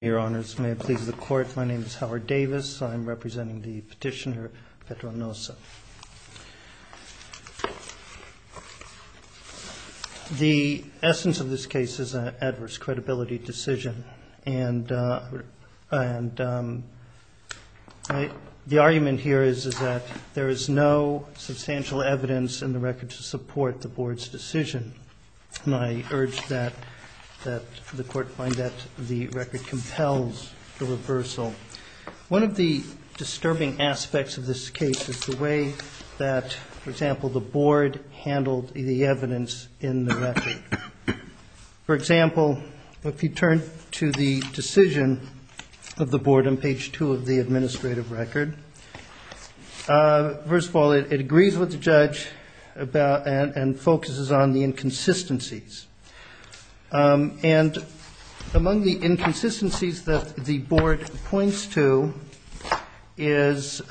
Your Honors, may it please the Court, my name is Howard Davis. I'm representing the petitioner, Petro Nosa. The essence of this case is an adverse credibility decision. The argument here is that there is no substantial evidence in the record to support the Board's decision. And I urge that the Court find that the record compels the reversal. One of the disturbing aspects of this case is the way that, for example, the Board handled the evidence in the record. For example, if you turn to the decision of the Board on page 2 of the administrative record, first of all, it agrees with the judge and focuses on the inconsistencies. And among the inconsistencies that the Board points to is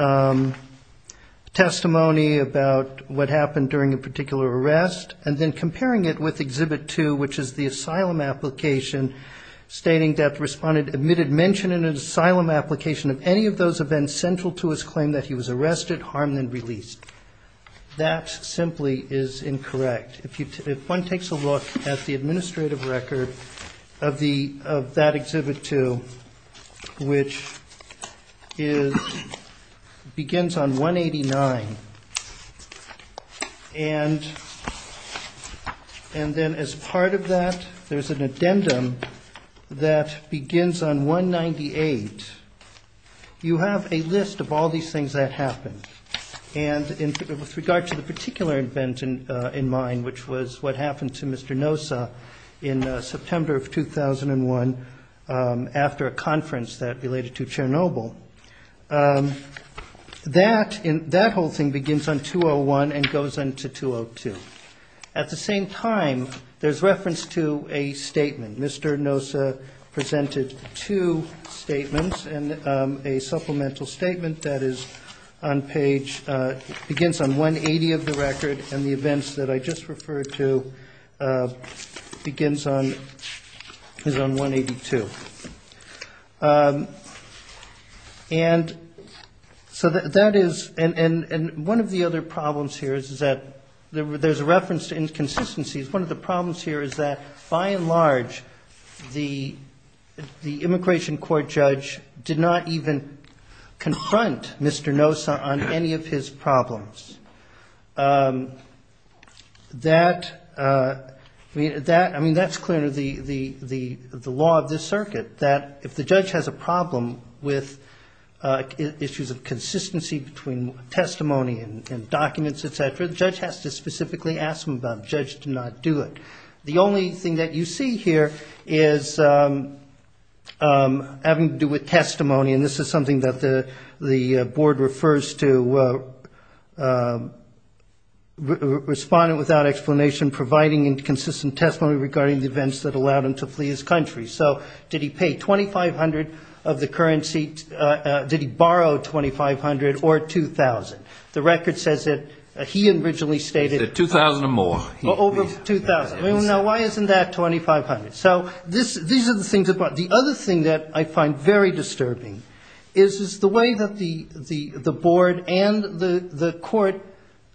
testimony about what happened during a particular arrest, and then comparing it with Exhibit 2, which is the asylum application, stating that the respondent admitted mention in an asylum application of any of those events central to his claim that he was arrested, harmed, and released. That simply is incorrect. If one takes a look at the administrative record of that Exhibit 2, which begins on 189, and then as part of that there's an addendum that begins on 198, you have a list of all these things that happened. And with regard to the particular event in mind, which was what happened to Mr. Nosa in September of 2001 after a conference that related to Chernobyl, that whole thing begins on 201 and goes on to 202. At the same time, there's reference to a statement. Mr. Nosa presented two statements, and a supplemental statement that is on page 180 of the record, and the events that I just referred to begins on 182. And so that is one of the other problems here is that there's a reference to inconsistencies. One of the problems here is that, by and large, the immigration court judge did not even confront Mr. Nosa on any of his problems. I mean, that's clearly the law of this circuit, that if the judge has a problem with issues of consistency between testimony and documents, etc., the judge has to specifically ask him about it. The judge did not do it. The only thing that you see here is having to do with testimony, and this is something that the board refers to, respondent without explanation providing inconsistent testimony regarding the events that allowed him to flee his country. So did he pay $2,500 of the currency? Did he borrow $2,500 or $2,000? The record says that he originally stated he paid $2,000 or more. Well, over $2,000. Well, now, why isn't that $2,500? So these are the things about it. The other thing that I find very disturbing is the way that the board and the court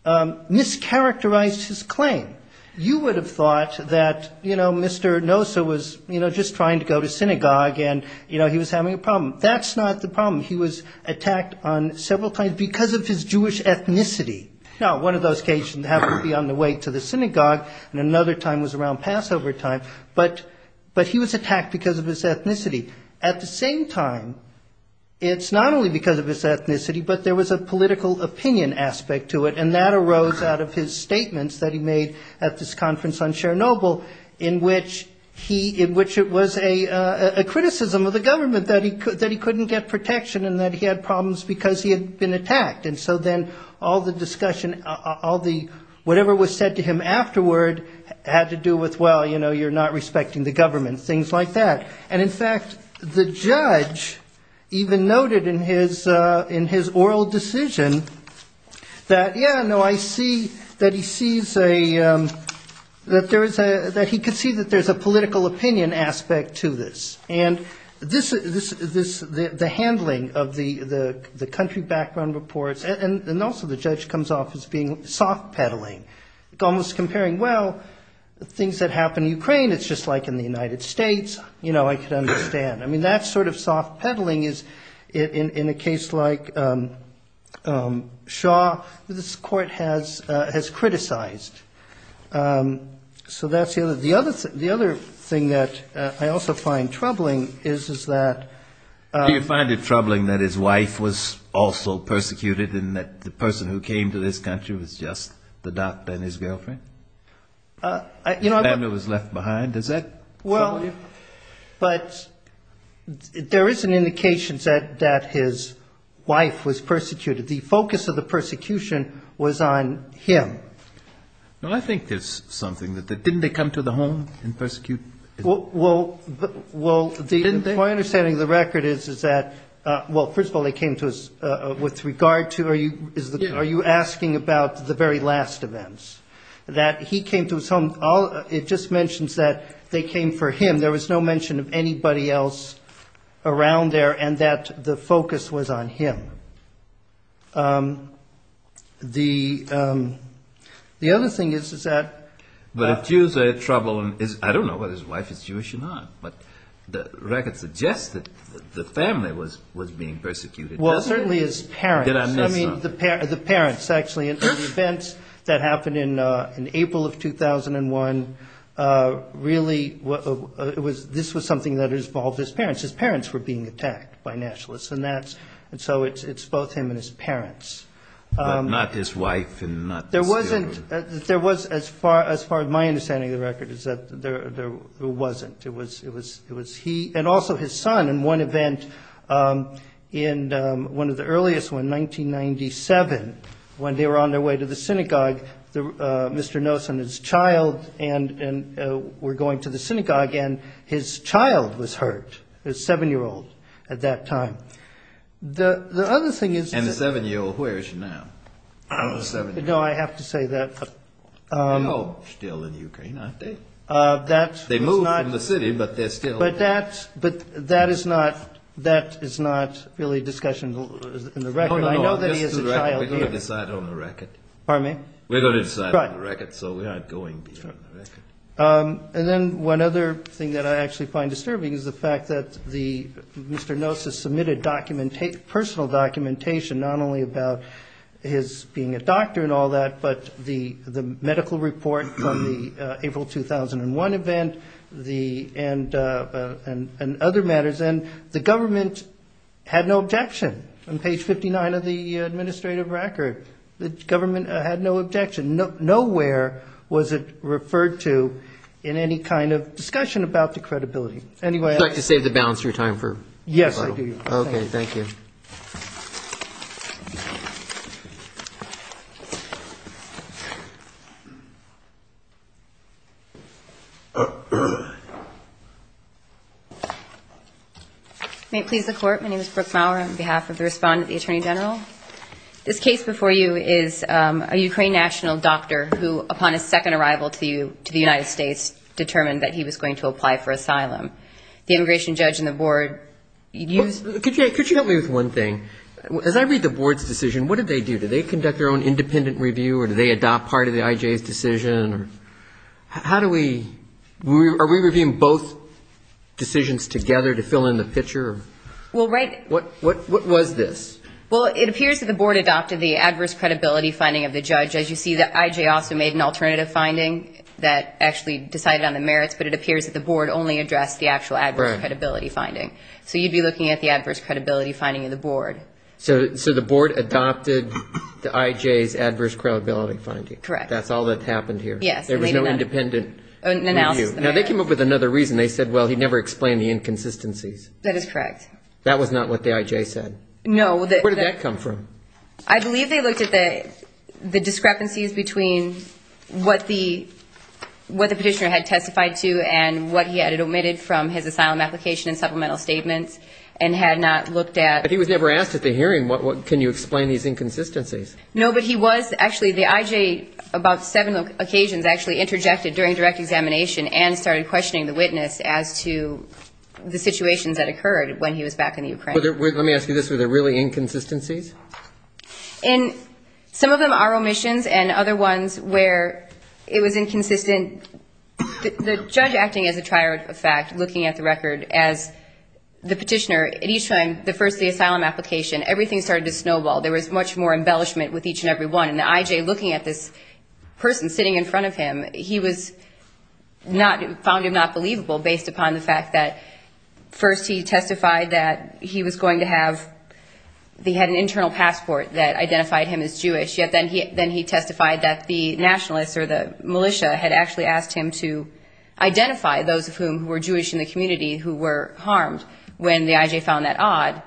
mischaracterized his claim. You would have thought that, you know, Mr. Nosa was, you know, just trying to go to synagogue, and, you know, he was having a problem. That's not the problem. He was attacked on several times because of his Jewish ethnicity. Now, one of those cases happened to be on the way to the synagogue, and another time was around Passover time, but he was attacked because of his ethnicity. At the same time, it's not only because of his ethnicity, but there was a political opinion aspect to it, and that arose out of his statements that he made at this conference on Chernobyl, in which it was a criticism of the government that he couldn't get protection and that he had problems because he had been attacked. And so then all the discussion, whatever was said to him afterward had to do with, well, you know, you're not respecting the government, things like that. And, in fact, the judge even noted in his oral decision that, yeah, no, I see that he sees a, that there is a, that he could see that there's a political opinion aspect to this. And this, the handling of the country background reports, and also the judge comes off as being soft-pedaling, almost comparing, well, things that happen in Ukraine, it's just like in the United States. You know, I could understand. I mean, that sort of soft-pedaling is, in a case like Shaw, this Court has criticized. So that's the other, the other thing that I also find troubling is, is that... Do you find it troubling that his wife was also persecuted, and that the person who came to this country was just the doctor and his girlfriend? The family was left behind, does that trouble you? Well, but there is an indication that his wife was persecuted. The focus of the persecution was on him. Well, I think there's something. Didn't they come to the home and persecute? Well, my understanding of the record is that, well, first of all, they came to us with regard to, are you asking about the very last events? That he came to his home, it just mentions that they came for him. There was no mention of anybody else around there, and that the focus was on him. The other thing is, is that... But if Jews are troubling, I don't know whether his wife is Jewish or not, but the record suggests that the family was being persecuted. Well, certainly his parents. Did I miss something? I mean, the parents, actually. And the events that happened in April of 2001 really, this was something that involved his parents. His parents were being attacked by nationalists, and so it's both him and his parents. But not his wife and not his children. There was, as far as my understanding of the record, is that there wasn't. It was he and also his son in one event, in one of the earliest, in 1997, when they were on their way to the synagogue, Mr. Nosen and his child were going to the synagogue, and his child was hurt, his 7-year-old, at that time. The other thing is... And the 7-year-old, where is she now? No, I have to say that... They're still in Ukraine, aren't they? They moved from the city, but they're still... But that is not really a discussion in the record. I know that he has a child here. We're going to decide on the record. Pardon me? We're going to decide on the record, so we aren't going beyond the record. And then one other thing that I actually find disturbing is the fact that Mr. Nosen submitted personal documentation, not only about his being a doctor and all that, but the medical report from the April 2001 event and other matters, and the government had no objection on page 59 of the administrative record. The government had no objection. Nowhere was it referred to in any kind of discussion about the credibility. Would you like to save the balance of your time? Yes, I do. Okay, thank you. May it please the Court, my name is Brooke Maurer on behalf of the respondent, the Attorney General. This case before you is a Ukraine national doctor who, upon his second arrival to the United States, determined that he was going to apply for asylum. The immigration judge and the board used the ---- Could you help me with one thing? As I read the board's decision, what did they do? Did they conduct their own independent review, or did they adopt part of the I.J.'s decision? How do we ---- Are we reviewing both decisions together to fill in the picture? Well, right ---- What was this? Well, it appears that the board adopted the adverse credibility finding of the judge. As you see, the I.J. also made an alternative finding that actually decided on the merits, but it appears that the board only addressed the actual adverse credibility finding. So you'd be looking at the adverse credibility finding of the board. So the board adopted the I.J.'s adverse credibility finding? Correct. That's all that happened here? Yes. There was no independent review. Now, they came up with another reason. They said, well, he never explained the inconsistencies. That is correct. That was not what the I.J. said? No. Where did that come from? I believe they looked at the discrepancies between what the petitioner had testified to and what he had omitted from his asylum application and supplemental statements and had not looked at ---- But he was never asked at the hearing, can you explain these inconsistencies? No, but he was actually, the I.J. about seven occasions actually interjected during direct examination and started questioning the witness as to the situations that occurred when he was back in the Ukraine. Let me ask you this, were there really inconsistencies? Some of them are omissions and other ones where it was inconsistent. The judge acting as a trier of fact, looking at the record as the petitioner, at each time, the first of the asylum application, everything started to snowball. There was much more embellishment with each and every one. And the I.J. looking at this person sitting in front of him, he found him not believable based upon the fact that first he testified that he was going to have, he had an internal passport that identified him as Jewish, yet then he testified that the nationalists or the militia had actually asked him to identify those of whom who were Jewish in the community who were harmed when the I.J. found that odd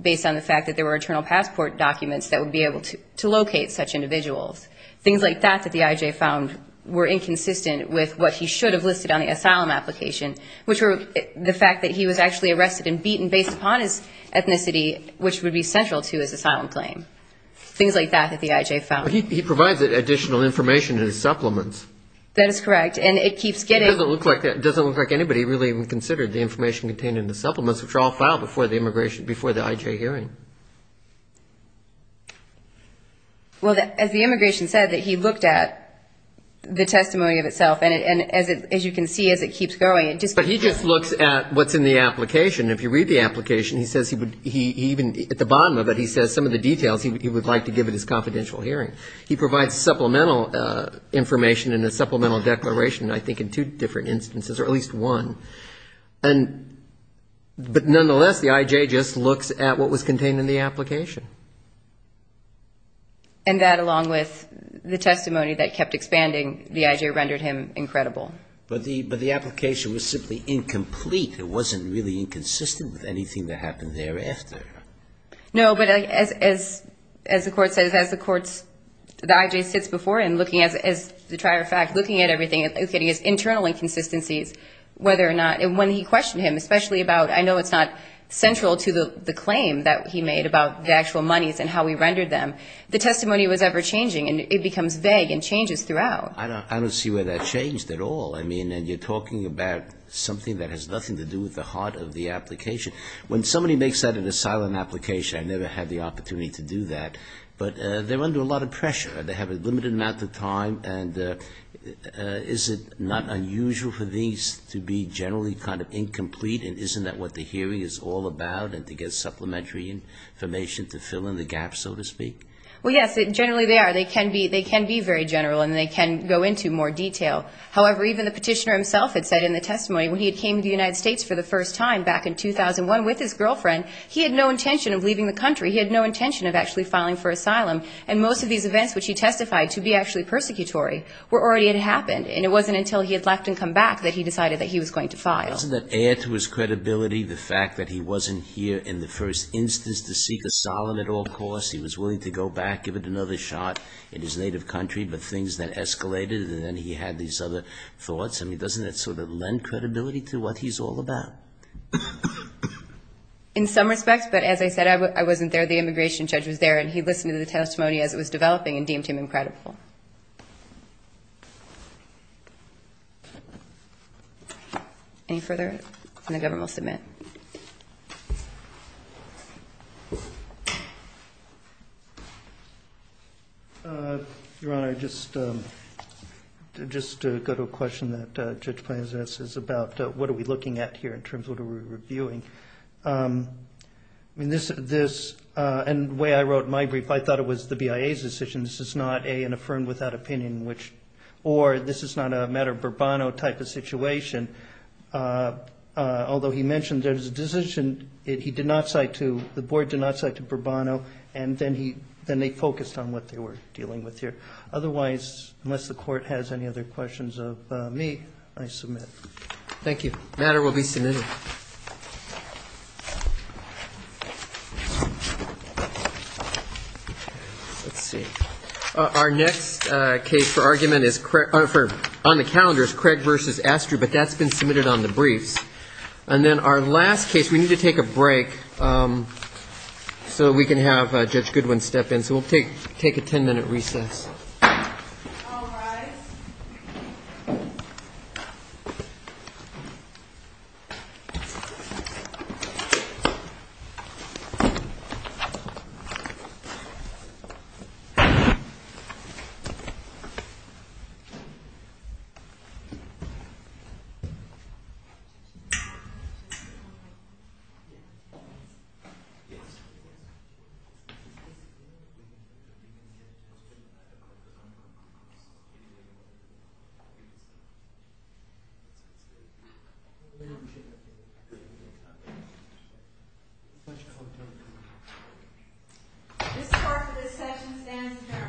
based on the fact that there were internal passport documents that would be able to locate such individuals. Things like that that the I.J. found were inconsistent with what he should have listed on the asylum application, which were the fact that he was actually arrested and beaten based upon his ethnicity, which would be central to his asylum claim. Things like that that the I.J. found. He provides additional information in his supplements. That is correct, and it keeps getting... It doesn't look like anybody really even considered the information contained in the supplements, which are all filed before the I.J. hearing. Well, as the immigration said, that he looked at the testimony of itself, and as you can see, as it keeps going, it just... But he just looks at what's in the application. If you read the application, he says he would even, at the bottom of it, he says some of the details he would like to give at his confidential hearing. He provides supplemental information and a supplemental declaration, I think, in two different instances, or at least one. But nonetheless, the I.J. just looks at what was contained in the application. And that, along with the testimony that kept expanding, the I.J. rendered him incredible. But the application was simply incomplete. It wasn't really inconsistent with anything that happened thereafter. No, but as the court says, as the court's, the I.J. sits before him looking at, as a matter of fact, looking at everything, looking at his internal inconsistencies, whether or not, and when he questioned him, especially about, I know it's not central to the claim that he made about the actual monies and how he rendered them, the testimony was ever-changing, and it becomes vague and changes throughout. I don't see where that changed at all. I mean, and you're talking about something that has nothing to do with the heart of the application. When somebody makes that in a silent application, I never had the opportunity to do that. But they're under a lot of pressure. They have a limited amount of time, and is it not unusual for these to be generally kind of incomplete, and isn't that what the hearing is all about, and to get supplementary information to fill in the gaps, so to speak? Well, yes, generally they are. They can be very general, and they can go into more detail. However, even the petitioner himself had said in the testimony, when he had came to the United States for the first time back in 2001 with his girlfriend, he had no intention of leaving the country. He had no intention of actually filing for asylum, and most of these events which he testified to be actually persecutory were already had happened, and it wasn't until he had left and come back that he decided that he was going to file. Doesn't that add to his credibility the fact that he wasn't here in the first instance to seek asylum at all costs? He was willing to go back, give it another shot in his native country, but things then escalated, and then he had these other thoughts. I mean, doesn't that sort of lend credibility to what he's all about? In some respects, but as I said, I wasn't there. The immigration judge was there, and he listened to the testimony as it was developing and deemed him incredible. Any further? And the government will submit. Your Honor, just to go to a question that Judge Plante has asked us about, what are we looking at here in terms of what are we reviewing? I mean, this, and the way I wrote my brief, I thought it was the BIA's decision. This is not an affirmed without opinion, or this is not a matter of Bourbon type of situation. Although he mentioned there's a decision he did not cite to, the board did not cite to Bourbon, and then they focused on what they were dealing with here. Otherwise, unless the Court has any other questions of me, I submit. Thank you. The matter will be submitted. Let's see. Our next case for argument on the calendar is Craig v. Astru, but that's been submitted on the briefs. And then our last case, we need to take a break so we can have Judge Goodwin step in, so we'll take a ten-minute recess. This part of the session stands adjourned.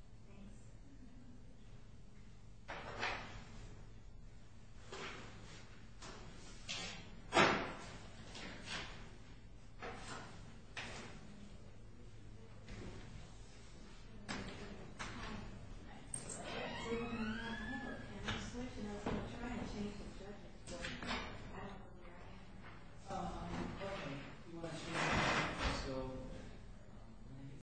Thank you. Thank you. Thank you. Thank you.